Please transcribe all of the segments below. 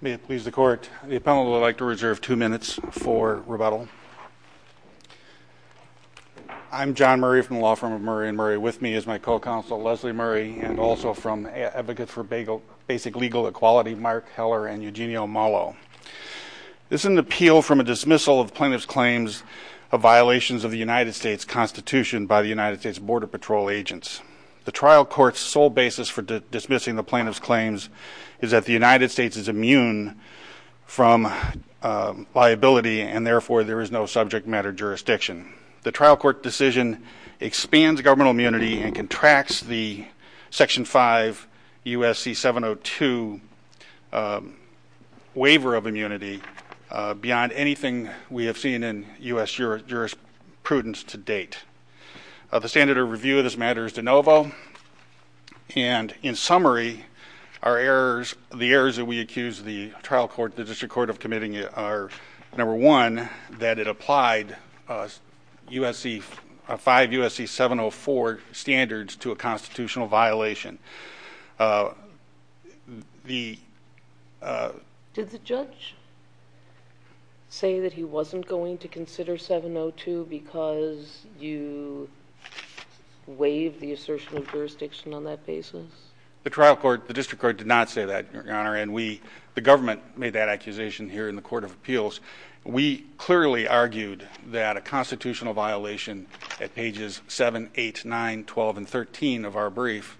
May it please the court, the appellant would like to reserve two minutes for rebuttal. I'm John Murray from the Law Firm of Murray & Murray. With me is my co-counsel Leslie Murray and also from Advocates for Basic Legal Equality Mark Heller and Eugenio Mollo. This is an appeal from a dismissal of plaintiff's claims of violations of the United States Constitution by the United States Border Patrol agents. The trial court's sole basis for dismissing the plaintiff's claims is that the United States is immune from liability and therefore there is no subject matter jurisdiction. The trial court decision expands governmental immunity and contracts the Section 5 U.S.C. 702 waiver of immunity beyond anything we have seen in U.S. jurisprudence to date. The standard of review of this matter is de novo and in summary, our errors, the errors that we accuse the trial court, the district court of committing are number one, that it applied 5 U.S.C. 704 standards to a constitutional violation. Did the judge say that he wasn't going to consider 702 because you waived the assertion of jurisdiction on that basis? The trial court, the district court did not say that, Your Honor, and we, the government made that accusation here in the Court of Appeals. We clearly argued that a constitutional violation at pages 7, 8, 9, 12, and 13 of our brief,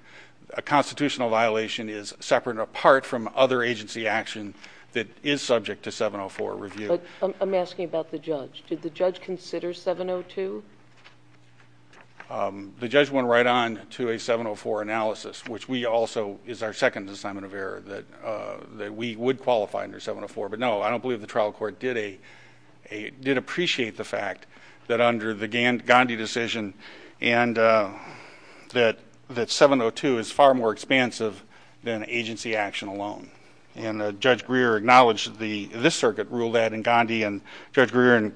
a constitutional violation is separate and apart from other agency action that is subject to 704 review. I'm asking about the judge. Did the judge consider 702? The judge went right on to a 704 analysis, which we also, is our second assignment of error, that we would qualify under 704. But no, I don't believe the trial court did appreciate the fact that under the Gandhi decision and that 702 is far more expansive than agency action alone. And Judge Greer acknowledged that this circuit ruled that in Gandhi and Judge Greer in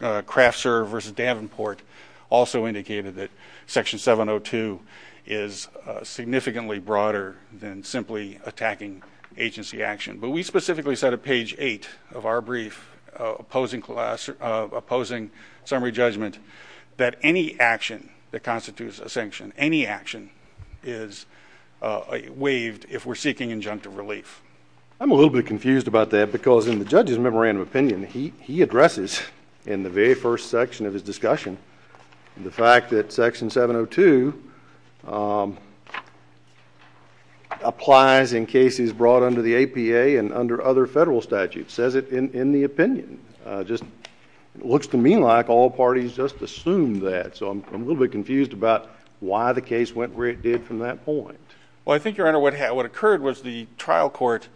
Kraftser v. Davenport also indicated that section 702 is significantly broader than simply attacking agency action. But we specifically said at page 8 of our brief opposing summary judgment that any action that constitutes a sanction, any action is waived if we're seeking injunctive relief. I'm a little bit confused about that because in the judge's memorandum of opinion, he addresses in the very first section of his discussion the fact that section 702 applies in cases brought under the APA and under other federal statutes. Says it in the opinion. Just looks to me like all parties just assume that. So I'm a little bit confused about why the case went where it did from that point. Well, I think, Your Honor, what occurred was the trial court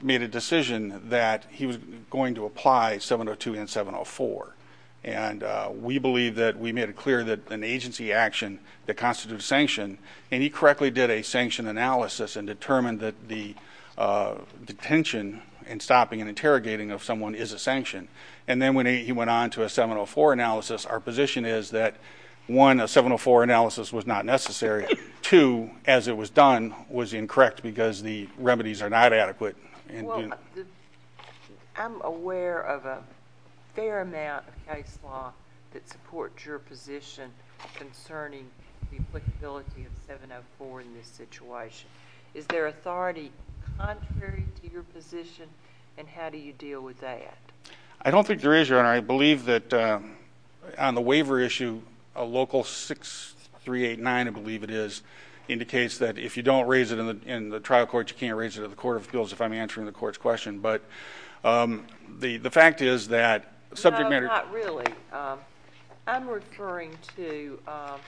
made a decision that he was going to apply 702 and 704. And we believe that we made it clear that an agency action that constitutes sanction, and he correctly did a sanction analysis and determined that the detention and stopping and interrogating of someone is a sanction. And then when he went on to a 704 analysis, our position is that one, a 704 analysis was not necessary. Two, as it was done, was incorrect because the remedies are not adequate. Well, I'm aware of a fair amount of case law that supports your position concerning the applicability of 704 in this situation. Is there authority contrary to your position, and how do you deal with that? I don't think there is, Your Honor. I believe that on the waiver issue, local 6389, I believe it is, indicates that if you don't raise it in the trial court, you can't raise it in the court of appeals if I'm answering the court's question. But the fact is that subject matter — No, not really. I'm referring to — I'm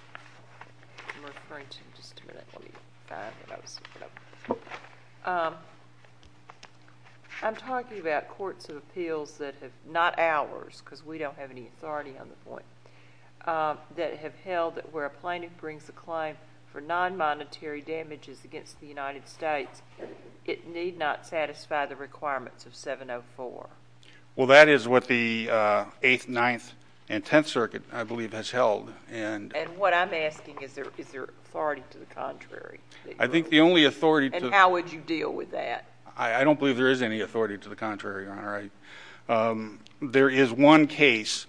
referring to — just a minute, let me find my notes. I'm talking about courts of appeals that have — not ours, because we don't have any authority on the point — that have held that where a plaintiff brings a claim for non-monetary damages against the United States, it need not satisfy the requirements of 704. Well, that is what the Eighth, Ninth, and Tenth Circuit, I believe, has held. And what I'm asking, is there authority to the contrary? I think the only authority to — And how would you deal with that? I don't believe there is any authority to the contrary, Your Honor. There is one case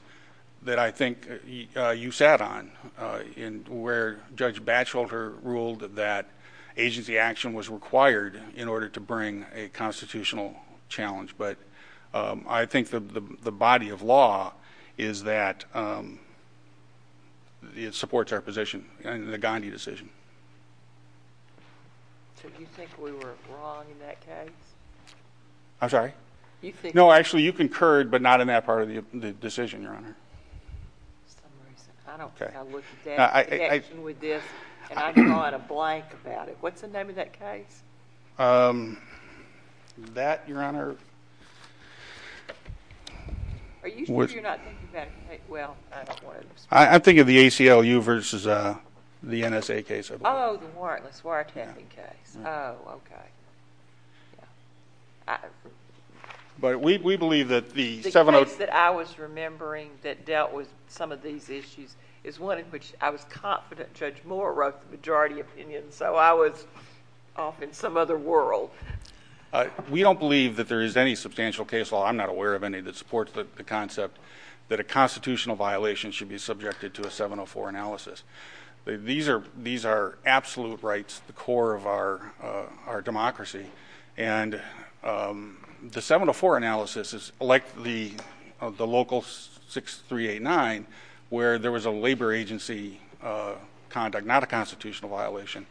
that I think you sat on where Judge Batchelder ruled that agency action was required in order to bring a constitutional challenge. But I think the body of law is that it supports our position, the Gandhi decision. So do you think we were wrong in that case? I'm sorry? No, actually, you concurred, but not in that part of the decision, Your Honor. I don't think I looked at that connection with this, and I draw out a blank about it. What's the name of that case? That, Your Honor — Are you sure you're not thinking about — well, I don't want to — I'm thinking of the ACLU versus the NSA case, I believe. Oh, the warrantless wiretapping case. Oh, okay. But we believe that the 704 — The case that I was remembering that dealt with some of these issues is one in which I was confident Judge Moore wrote the majority opinion. So I was off in some other world. We don't believe that there is any substantial case law — I'm not aware of any — that supports the concept that a constitutional violation should be subjected to a 704 analysis. These are absolute rights, the core of our democracy. And the 704 analysis is like the local 6389, where there was a labor agency conduct, not a constitutional violation.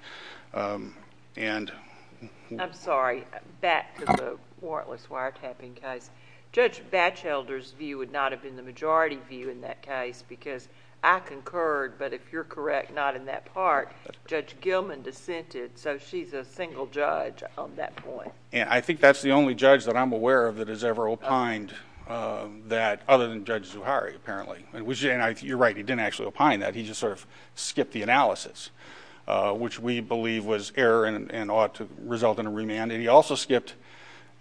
I'm sorry. Back to the warrantless wiretapping case. Judge Batchelder's view would not have been the majority view in that case, because I concurred, but if you're correct, not in that part. Judge Gilman dissented, so she's a single judge on that point. I think that's the only judge that I'm aware of that has ever opined that, other than Judge Zuhari, apparently. And you're right, he didn't actually opine that. He just sort of skipped the analysis, which we believe was error and ought to result in a remand. And he also skipped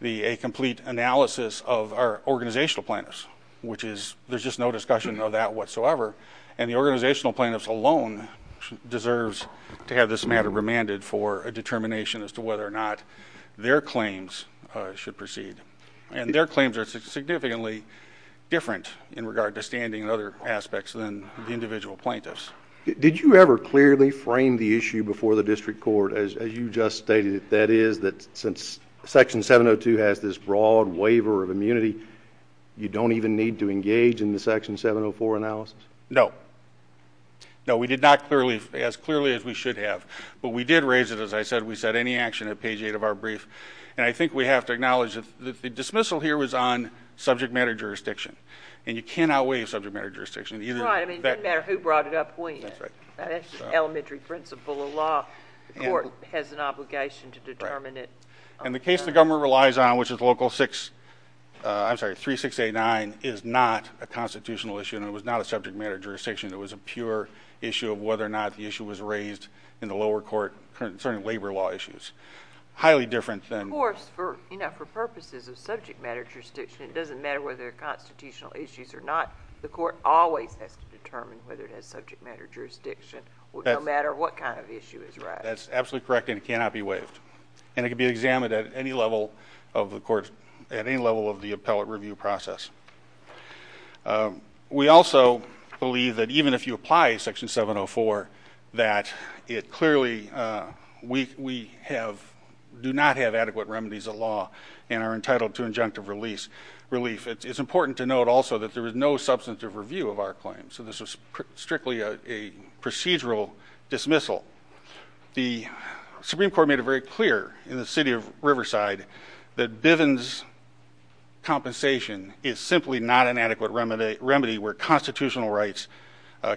a complete analysis of our organizational plaintiffs, which is — there's just no discussion of that whatsoever. And the organizational plaintiffs alone deserves to have this matter remanded for a determination as to whether or not their claims should proceed. And their claims are significantly different in regard to standing and other aspects than the individual plaintiffs. Did you ever clearly frame the issue before the district court, as you just stated it? That is, that since Section 702 has this broad waiver of immunity, you don't even need to engage in the Section 704 analysis? No. No, we did not as clearly as we should have. But we did raise it, as I said. We said any action at page 8 of our brief. And I think we have to acknowledge that the dismissal here was on subject matter jurisdiction. And you cannot waive subject matter jurisdiction. Right. I mean, it didn't matter who brought it up when. That's right. That's the elementary principle of law. The court has an obligation to determine it. And the case the government relies on, which is Local 6 — I'm sorry, 3689, is not a constitutional issue. And it was not a subject matter jurisdiction. It was a pure issue of whether or not the issue was raised in the lower court concerning labor law issues. Highly different than — Of course, for purposes of subject matter jurisdiction, it doesn't matter whether they're constitutional issues or not. The court always has to determine whether it has subject matter jurisdiction, no matter what kind of issue is raised. That's absolutely correct, and it cannot be waived. And it can be examined at any level of the court's — at any level of the appellate review process. We also believe that even if you apply Section 704, that it clearly — we do not have adequate remedies of law and are entitled to injunctive relief. It's important to note also that there was no substantive review of our claim. So this was strictly a procedural dismissal. The Supreme Court made it very clear in the city of Riverside that Bivens compensation is simply not an adequate remedy where constitutional rights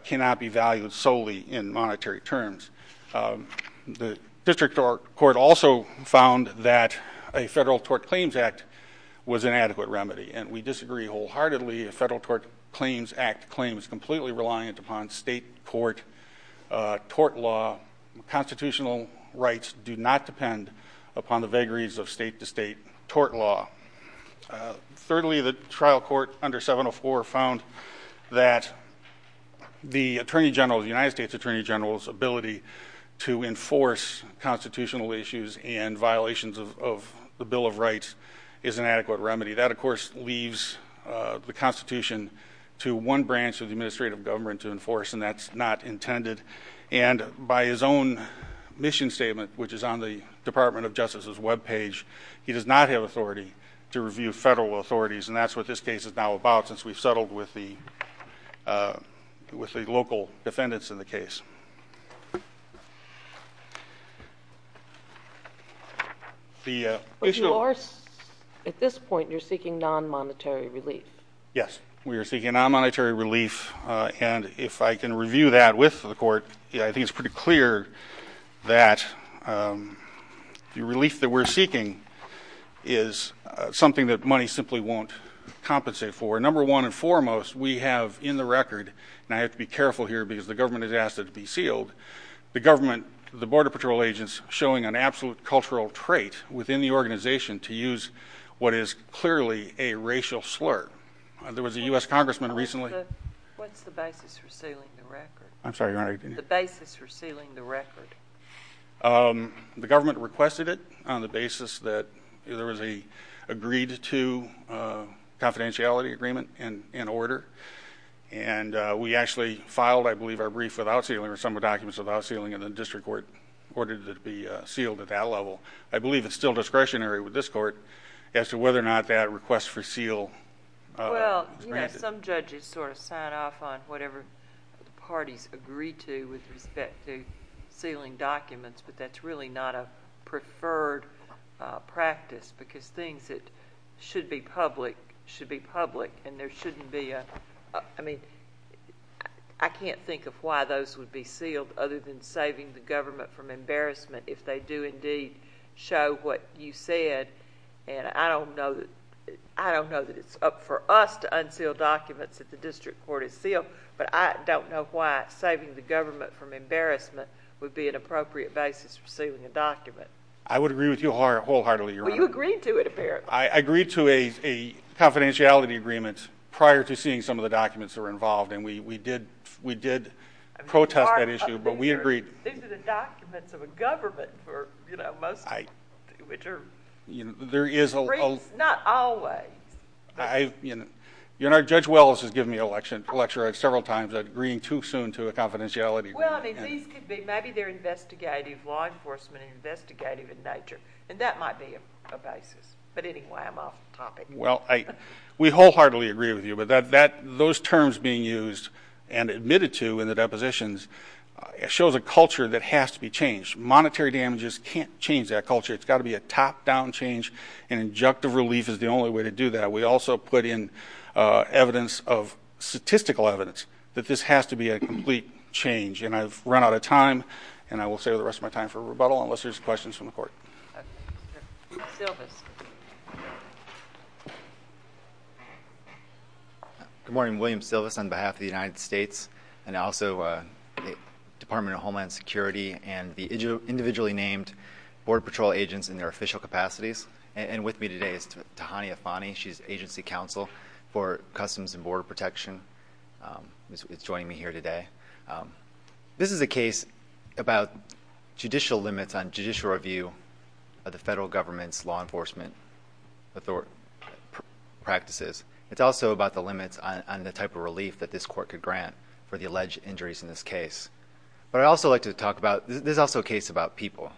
cannot be valued solely in monetary terms. The district court also found that a federal tort claims act was an adequate remedy. And we disagree wholeheartedly. A federal tort claims act claim is completely reliant upon state court tort law. Constitutional rights do not depend upon the vagaries of state-to-state tort law. Thirdly, the trial court under 704 found that the attorney general — the United States attorney general's ability to enforce constitutional issues and violations of the Bill of Rights is an adequate remedy. That, of course, leaves the Constitution to one branch of the administrative government to enforce, and that's not intended. And by his own mission statement, which is on the Department of Justice's webpage, he does not have authority to review federal authorities, and that's what this case is now about since we've settled with the local defendants in the case. But you are — at this point, you're seeking non-monetary relief. Yes. We are seeking non-monetary relief. And if I can review that with the court, I think it's pretty clear that the relief that we're seeking is something that money simply won't compensate for. Number one and foremost, we have in the record — and I have to be careful here because the government has asked it to be sealed — the government, the Border Patrol agents, showing an absolute cultural trait within the organization to use what is clearly a racial slur. There was a U.S. congressman recently — What's the basis for sealing the record? I'm sorry, Your Honor. The basis for sealing the record. The government requested it on the basis that there was an agreed-to confidentiality agreement in order, and we actually filed, I believe, our brief without sealing or some documents without sealing in the district court in order to be sealed at that level. I believe it's still discretionary with this court as to whether or not that request for seal — Well, you know, some judges sort of sign off on whatever the parties agree to with respect to sealing documents, but that's really not a preferred practice because things that should be public should be public, and there shouldn't be a — I mean, I can't think of why those would be sealed other than saving the government from embarrassment if they do indeed show what you said. And I don't know that it's up for us to unseal documents that the district court has sealed, but I don't know why saving the government from embarrassment would be an appropriate basis for sealing a document. I would agree with you wholeheartedly, Your Honor. Well, you agreed to it, apparently. I agreed to a confidentiality agreement prior to seeing some of the documents that were involved, and we did protest that issue, but we agreed — These are the documents of a government for, you know, most people, which are — There is a — Not always. Your Honor, Judge Welles has given me a lecture several times about agreeing too soon to a confidentiality agreement. Well, I mean, these could be — maybe they're investigative, law enforcement investigative in nature, and that might be a basis, but anyway, I'm off the topic. Well, we wholeheartedly agree with you, but those terms being used and admitted to in the depositions shows a culture that has to be changed. Monetary damages can't change that culture. It's got to be a top-down change, and injective relief is the only way to do that. We also put in evidence of — statistical evidence that this has to be a complete change, and I've run out of time, and I will save the rest of my time for rebuttal unless there's questions from the court. Okay. Silvis. Good morning. My name is William Silvis on behalf of the United States and also the Department of Homeland Security and the individually named Border Patrol agents in their official capacities, and with me today is Tahani Afani. She's agency counsel for Customs and Border Protection. She's joining me here today. This is a case about judicial limits on judicial review of the federal government's law enforcement practices. It's also about the limits on the type of relief that this court could grant for the alleged injuries in this case. But I'd also like to talk about — this is also a case about people.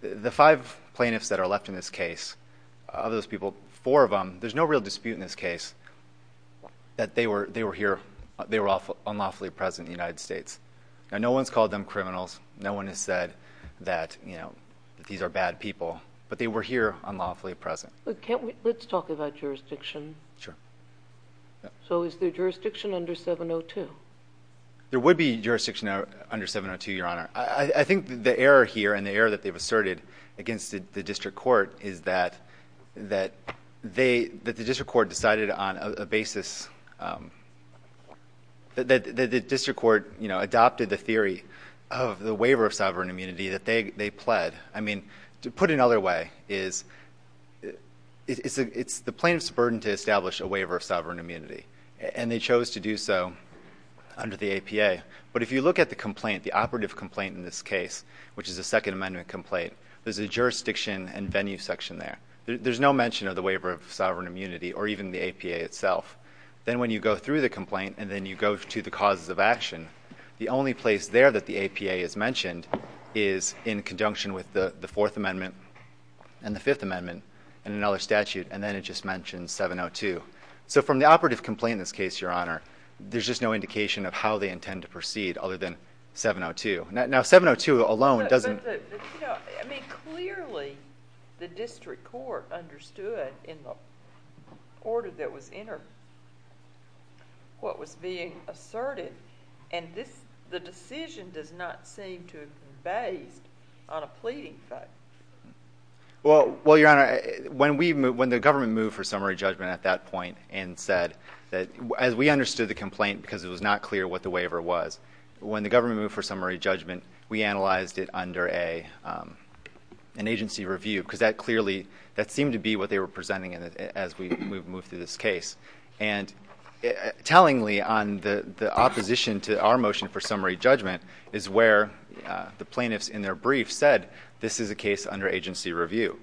The five plaintiffs that are left in this case, of those people, four of them, there's no real dispute in this case that they were here, they were unlawfully present in the United States. Now, no one's called them criminals. No one has said that, you know, that these are bad people, but they were here unlawfully present. Let's talk about jurisdiction. Sure. So is there jurisdiction under 702? There would be jurisdiction under 702, Your Honor. I think the error here and the error that they've asserted against the district court is that the district court decided on a basis that the district court, you know, adopted the theory of the waiver of sovereign immunity that they pled. I mean, to put it another way is it's the plaintiff's burden to establish a waiver of sovereign immunity, and they chose to do so under the APA. But if you look at the complaint, the operative complaint in this case, which is a Second Amendment complaint, there's a jurisdiction and venue section there. There's no mention of the waiver of sovereign immunity or even the APA itself. Then when you go through the complaint and then you go to the causes of action, the only place there that the APA is mentioned is in conjunction with the Fourth Amendment and the Fifth Amendment and another statute, and then it just mentions 702. So from the operative complaint in this case, Your Honor, there's just no indication of how they intend to proceed other than 702. Now, 702 alone doesn't... And the decision does not seem to have been based on a pleading fact. Well, Your Honor, when the government moved for summary judgment at that point and said that... as we understood the complaint because it was not clear what the waiver was, when the government moved for summary judgment, we analyzed it under an agency review because that clearly... that seemed to be what they were presenting as we moved through this case. And tellingly on the opposition to our motion for summary judgment is where the plaintiffs in their brief said, this is a case under agency review.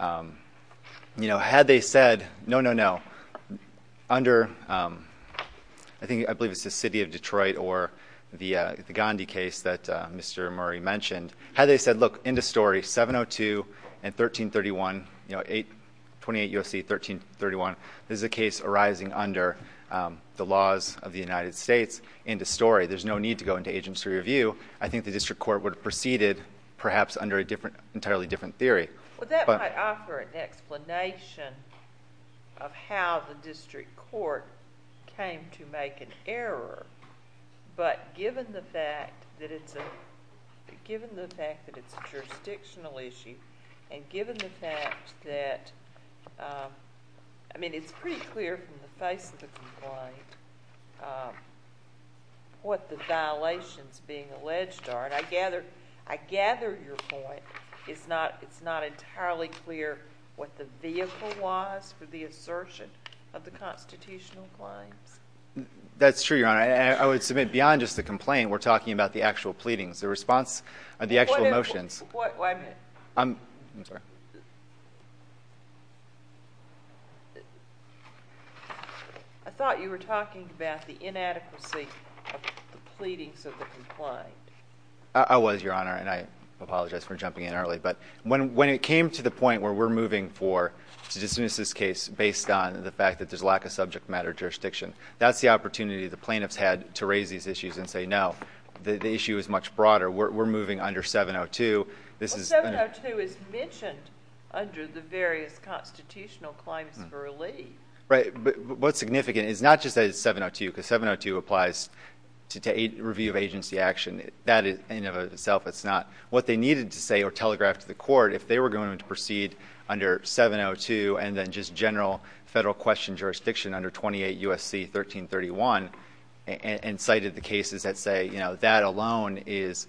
You know, had they said, no, no, no, under... I believe it's the city of Detroit or the Gandhi case that Mr. Murray mentioned. Had they said, look, end of story, 702 and 1331, you know, 28 U.S.C. 1331, this is a case arising under the laws of the United States, end of story. There's no need to go into agency review. I think the district court would have proceeded perhaps under an entirely different theory. Well, that might offer an explanation of how the district court came to make an error. But given the fact that it's a jurisdictional issue and given the fact that... I mean, it's pretty clear from the face of the complaint what the violations being alleged are. And I gather your point, it's not entirely clear what the vehicle was for the assertion of the constitutional claims. That's true, Your Honor. I would submit beyond just the complaint, we're talking about the actual pleadings, the response of the actual motions. I'm sorry. I thought you were talking about the inadequacy of the pleadings of the complaint. I was, Your Honor, and I apologize for jumping in early. But when it came to the point where we're moving for, to dismiss this case based on the fact that there's a lack of subject matter jurisdiction, that's the opportunity the plaintiffs had to raise these issues and say, no, the issue is much broader. We're moving under 702. Well, 702 is mentioned under the various constitutional claims for relief. Right. But what's significant is not just that it's 702, because 702 applies to review of agency action. That in and of itself is not what they needed to say or telegraph to the court if they were going to proceed under 702 and then just general federal question jurisdiction under 28 U.S.C. 1331 and cited the cases that say, you know, that alone is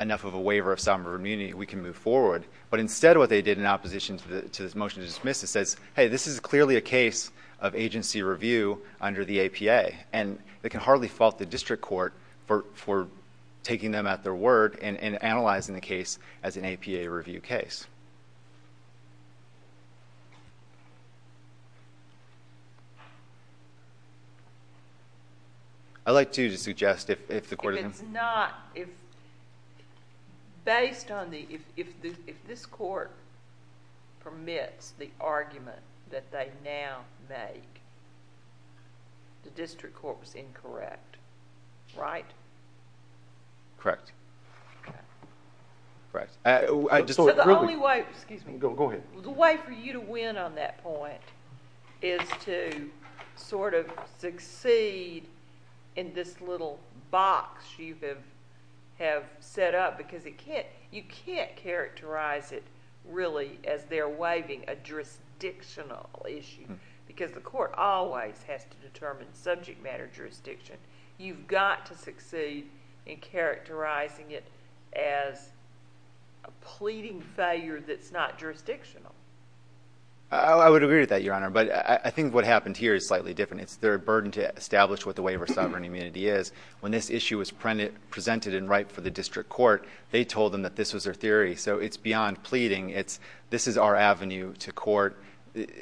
enough of a waiver of sovereign immunity. We can move forward. But instead what they did in opposition to this motion to dismiss it says, hey, this is clearly a case of agency review under the APA. And they can hardly fault the district court for taking them at their word and analyzing the case as an APA review case. I'd like to suggest if the court... If it's not... based on the... if this court permits the argument that they now make, the district court was incorrect, right? Correct. Okay. Correct. I just... So the only way... Excuse me. Go ahead. The way for you to win on that point is to sort of succeed in this little box you have set up because it can't... You can't characterize it really as they're waiving a jurisdictional issue because the court always has to determine subject matter jurisdiction. You've got to succeed in characterizing it as a pleading failure that's not jurisdictional. I would agree with that, Your Honor. But I think what happened here is slightly different. It's their burden to establish what the waiver of sovereign immunity is. When this issue was presented and right for the district court, they told them that this was their theory. So it's beyond pleading. It's this is our avenue to court. The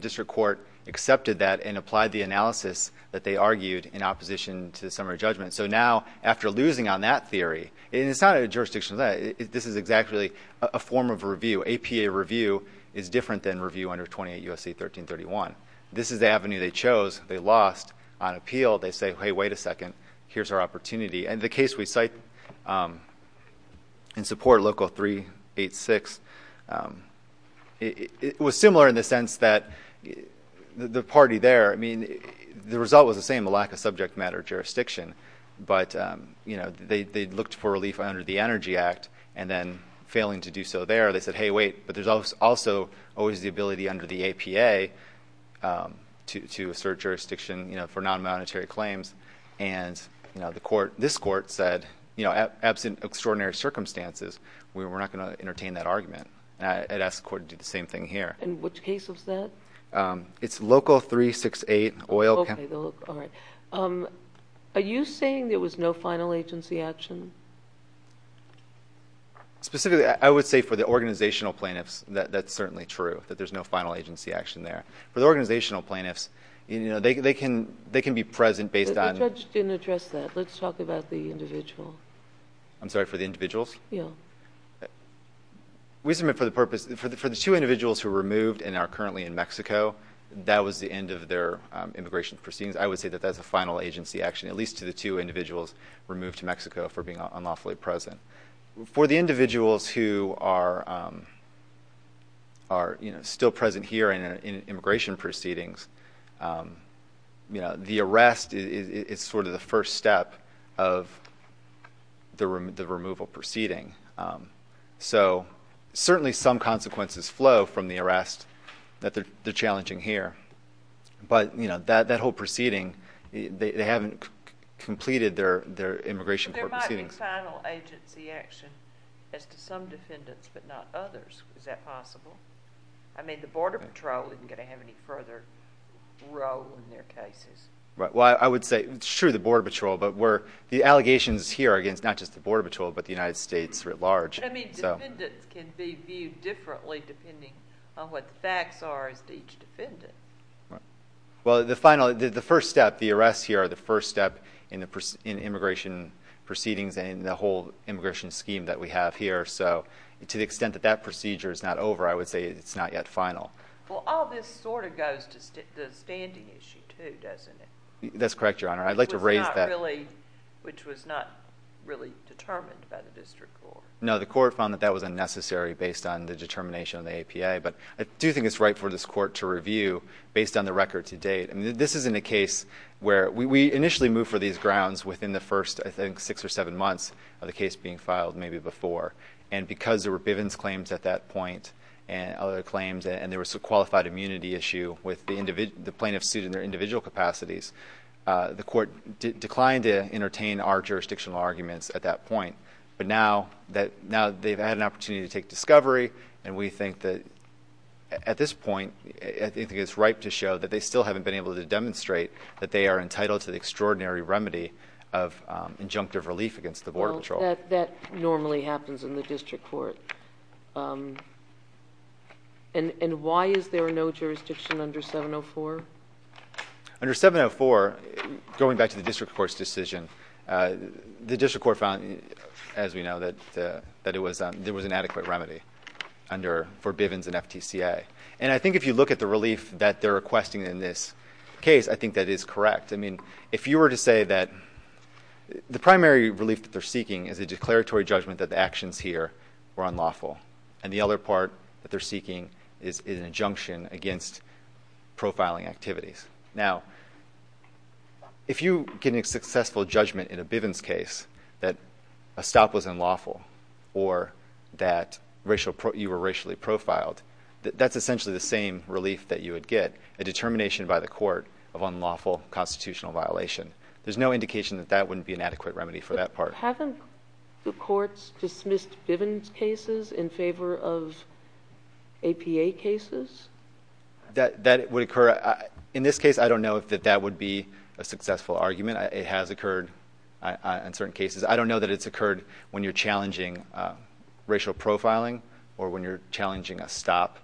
district court accepted that and applied the analysis that they argued in opposition to the summary judgment. So now, after losing on that theory... It's not a jurisdictional... This is exactly a form of review. APA review is different than review under 28 U.S.C. 1331. This is the avenue they chose. They lost on appeal. They say, hey, wait a second. Here's our opportunity. And the case we cite in support, Local 386, it was similar in the sense that the party there... I mean, the result was the same, a lack of subject matter jurisdiction. But, you know, they looked for relief under the Energy Act and then failing to do so there. They said, hey, wait. But there's also always the ability under the APA to assert jurisdiction for non-monetary claims. And, you know, this court said, you know, absent extraordinary circumstances, we're not going to entertain that argument. And I'd ask the court to do the same thing here. And which case was that? It's Local 368, oil... Okay. All right. Are you saying there was no final agency action? Specifically, I would say for the organizational plaintiffs, that's certainly true, that there's no final agency action there. For the organizational plaintiffs, you know, they can be present based on... The judge didn't address that. Let's talk about the individual. I'm sorry, for the individuals? Yeah. We submit for the purpose... for the two individuals who were removed and are currently in Mexico, that was the end of their immigration proceedings. I would say that that's a final agency action, at least to the two individuals removed to Mexico for being unlawfully present. For the individuals who are, you know, still present here in immigration proceedings, you know, the arrest is sort of the first step of the removal proceeding. So, certainly some consequences flow from the arrest that they're challenging here. But, you know, that whole proceeding, they haven't completed their immigration proceedings. There might be final agency action as to some defendants, but not others. Is that possible? I mean, the Border Patrol isn't going to have any further role in their cases. Right. Well, I would say, sure, the Border Patrol, but the allegations here are against not just the Border Patrol, but the United States writ large. But, I mean, defendants can be viewed differently depending on what the facts are as to each defendant. Right. Well, the final, the first step, the arrests here are the first step in immigration proceedings and the whole immigration scheme that we have here. So, to the extent that that procedure is not over, I would say it's not yet final. Well, all this sort of goes to the standing issue, too, doesn't it? That's correct, Your Honor. I'd like to raise that. Which was not really determined by the district court. No, the court found that that was unnecessary based on the determination of the APA. But I do think it's right for this court to review based on the record to date. I mean, this isn't a case where we initially moved for these grounds within the first, I think, six or seven months of the case being filed, maybe before. And because there were Bivens claims at that point, and other claims, and there was a qualified immunity issue with the plaintiff's suit in their individual capacities, the court declined to entertain our jurisdictional arguments at that point. But now they've had an opportunity to take discovery, and we think that at this point, I think it's ripe to show that they still haven't been able to demonstrate that they are entitled to the extraordinary remedy of injunctive relief against the Border Patrol. Well, that normally happens in the district court. And why is there no jurisdiction under 704? Under 704, going back to the district court's decision, the district court found, as we know, that there was an adequate remedy for Bivens and FTCA. And I think if you look at the relief that they're requesting in this case, I think that is correct. I mean, if you were to say that the primary relief that they're seeking is a declaratory judgment that the actions here were unlawful, and the other part that they're seeking is an injunction against profiling activities. Now, if you get a successful judgment in a Bivens case that a stop was unlawful or that you were racially profiled, that's essentially the same relief that you would get, a determination by the court of unlawful constitutional violation. There's no indication that that wouldn't be an adequate remedy for that part. So haven't the courts dismissed Bivens cases in favor of APA cases? That would occur. In this case, I don't know if that would be a successful argument. It has occurred in certain cases. I don't know that it's occurred when you're challenging racial profiling or when you're challenging a stop,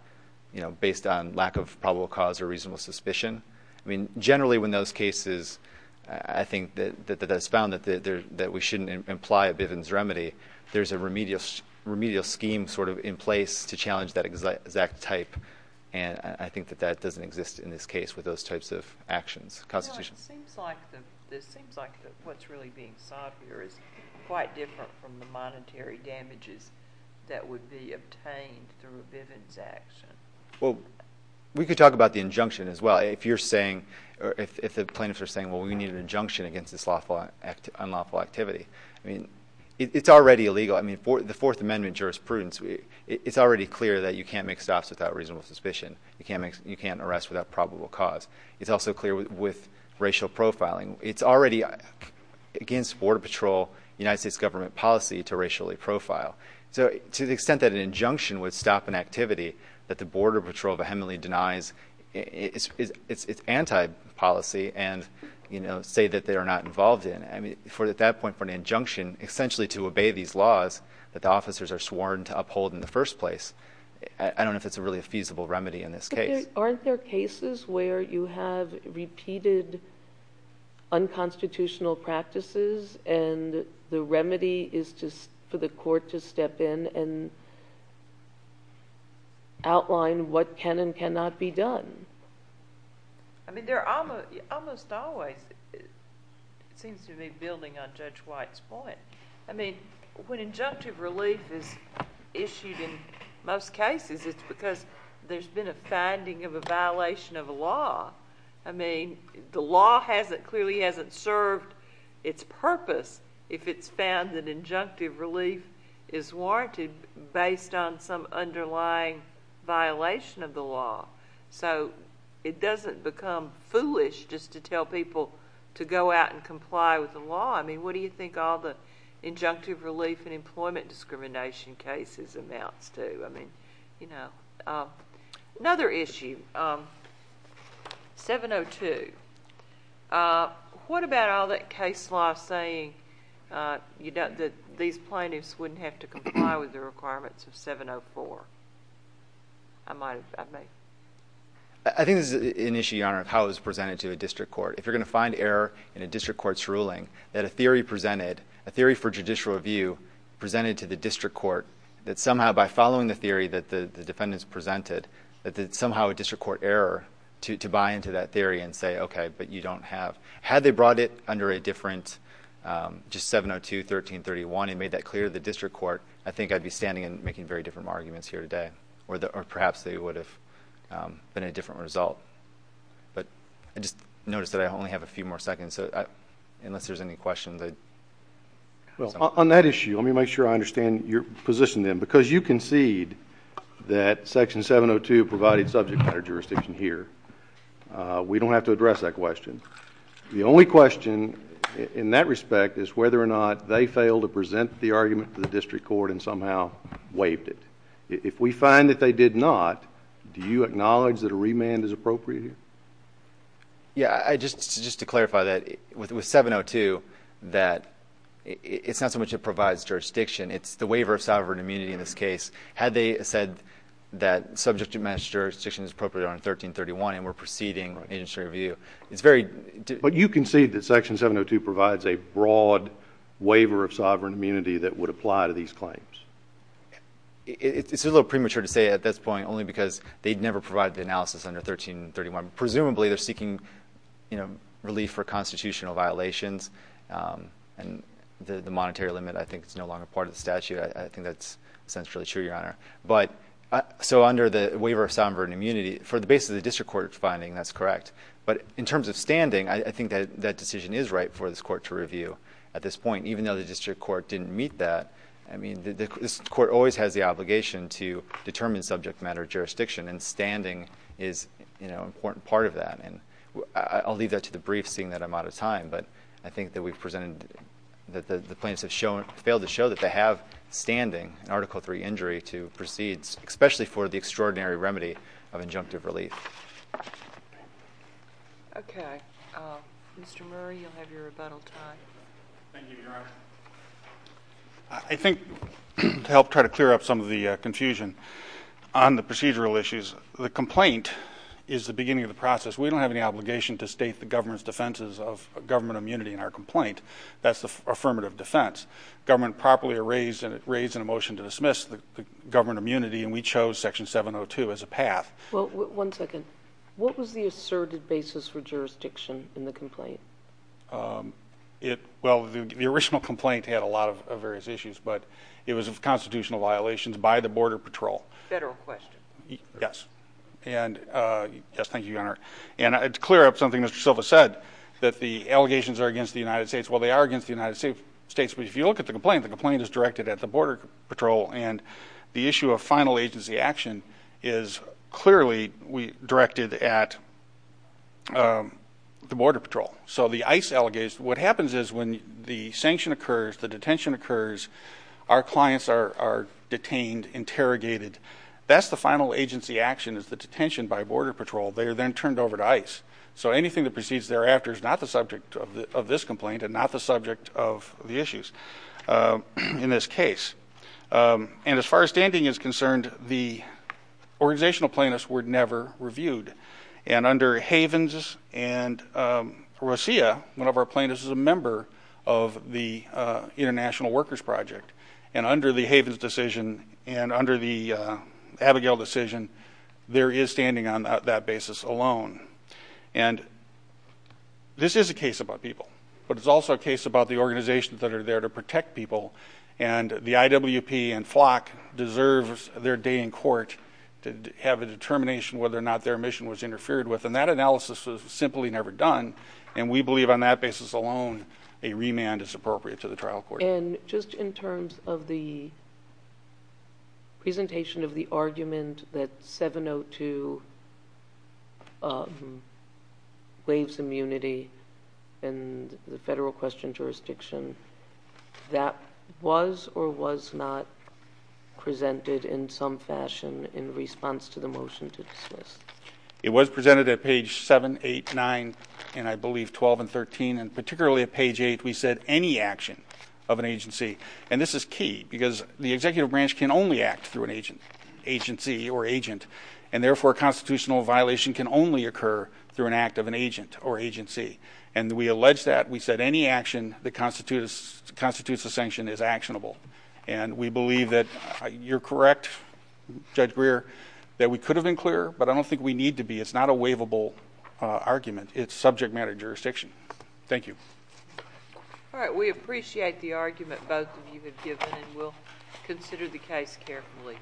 you know, based on lack of probable cause or reasonable suspicion. I mean, generally when those cases, I think that it's found that we shouldn't imply a Bivens remedy, there's a remedial scheme sort of in place to challenge that exact type, and I think that that doesn't exist in this case with those types of actions, constitutionally. It seems like what's really being sought here is quite different from the monetary damages that would be obtained through a Bivens action. Well, we could talk about the injunction as well. If you're saying, if the plaintiffs are saying, well, we need an injunction against this unlawful activity. I mean, it's already illegal. I mean, the Fourth Amendment jurisprudence, it's already clear that you can't make stops without reasonable suspicion. You can't arrest without probable cause. It's also clear with racial profiling. It's already against Border Patrol, United States government policy to racially profile. So to the extent that an injunction would stop an activity that the Border Patrol vehemently denies, it's anti-policy and, you know, say that they are not involved in. I mean, at that point for an injunction, essentially to obey these laws that the officers are sworn to uphold in the first place, I don't know if it's really a feasible remedy in this case. Aren't there cases where you have repeated unconstitutional practices and the remedy is for the court to step in and outline what can and cannot be done? I mean, there are almost always, it seems to me, building on Judge White's point. I mean, when injunctive relief is issued in most cases, it's because there's been a finding of a violation of a law. I mean, the law clearly hasn't served its purpose if it's found that injunctive relief is warranted based on some underlying violation of the law. So it doesn't become foolish just to tell people to go out and comply with the law. I mean, what do you think all the injunctive relief and employment discrimination cases amounts to? I mean, you know. Another issue, 702. What about all that case law saying that these plaintiffs wouldn't have to comply with the requirements of 704? I might have, I may. I think this is an issue, Your Honor, of how it was presented to a district court. If you're going to find error in a district court's ruling, that a theory presented, a theory for judicial review presented to the district court, that somehow by following the theory that the defendants presented, that somehow a district court error to buy into that theory and say, okay, but you don't have... Had they brought it under a different, just 702, 1331, and made that clear to the district court, I think I'd be standing and making very different arguments here today, or perhaps it would have been a different result. But I just noticed that I only have a few more seconds, so unless there's any questions... Well, on that issue, let me make sure I understand your position then. Because you concede that Section 702 provided subject matter jurisdiction here, we don't have to address that question. The only question in that respect is whether or not they failed to present the argument to the district court and somehow waived it. If we find that they did not, do you acknowledge that a remand is appropriate here? Yeah. Just to clarify that, with 702, that it's not so much it provides jurisdiction. It's the waiver of sovereign immunity in this case. Had they said that subject matter jurisdiction is appropriate under 1331 and were preceding agency review, it's very... But you concede that Section 702 provides a broad waiver of sovereign immunity that would apply to these claims. It's a little premature to say at this point, only because they'd never provided the analysis under 1331. Presumably, they're seeking, you know, relief for constitutional violations. And the monetary limit, I think, is no longer part of the statute. I think that's essentially true, Your Honor. But, so under the waiver of sovereign immunity, for the basis of the district court finding, that's correct. But in terms of standing, I think that decision is right for this court to review at this point. Even though the district court didn't meet that, I mean, this court always has the obligation to determine subject matter jurisdiction. And standing is, you know, an important part of that. And I'll leave that to the briefs, seeing that I'm out of time. But I think that we've presented... that the plaintiffs have shown... failed to show that they have standing in Article III injury to proceed, especially for the extraordinary remedy of injunctive relief. Okay. Mr. Murray, you'll have your rebuttal time. Thank you, Your Honor. I think, to help try to clear up some of the confusion on the procedural issues, the complaint is the beginning of the process. We don't have any obligation to state the government's defenses of government immunity in our complaint. That's the affirmative defense. Government properly raised in a motion to dismiss the government immunity, and we chose Section 702 as a path. Well, one second. What was the asserted basis for jurisdiction in the complaint? Well, the original complaint had a lot of various issues, but it was of constitutional violations by the Border Patrol. Federal question. Yes, thank you, Your Honor. And to clear up something Mr. Silva said, that the allegations are against the United States. Well, they are against the United States, but if you look at the complaint, the complaint is directed at the Border Patrol. And the issue of final agency action is clearly directed at the Border Patrol. So the ICE allegations, what happens is when the sanction occurs, the detention occurs, our clients are detained, interrogated. That's the final agency action is the detention by Border Patrol. They are then turned over to ICE. So anything that proceeds thereafter is not the subject of this complaint and not the subject of the issues in this case. And as far as standing is concerned, the organizational plaintiffs were never reviewed. And under Havens and Rosia, one of our plaintiffs is a member of the International Workers Project. And under the Havens decision and under the Abigail decision, there is standing on that basis alone. And this is a case about people, but it's also a case about the organizations that are there to protect people. And the IWP and FLOC deserves their day in court to have a determination whether or not their mission was interfered with. And that analysis was simply never done. And we believe on that basis alone a remand is appropriate to the trial court. And just in terms of the presentation of the argument that 702 waives immunity in the federal question jurisdiction, that was or was not presented in some fashion in response to the motion to dismiss? It was presented at page 7, 8, 9, and I believe 12 and 13. And particularly at page 8, we said any action of an agency. And this is key because the executive branch can only act through an agency or agent, and therefore a constitutional violation can only occur through an act of an agent or agency. And we allege that. We said any action that constitutes a sanction is actionable. And we believe that you're correct, Judge Greer, that we could have been clearer, but I don't think we need to be. It's not a waivable argument. It's subject matter jurisdiction. Thank you. All right. We appreciate the argument both of you have given, and we'll consider the case carefully.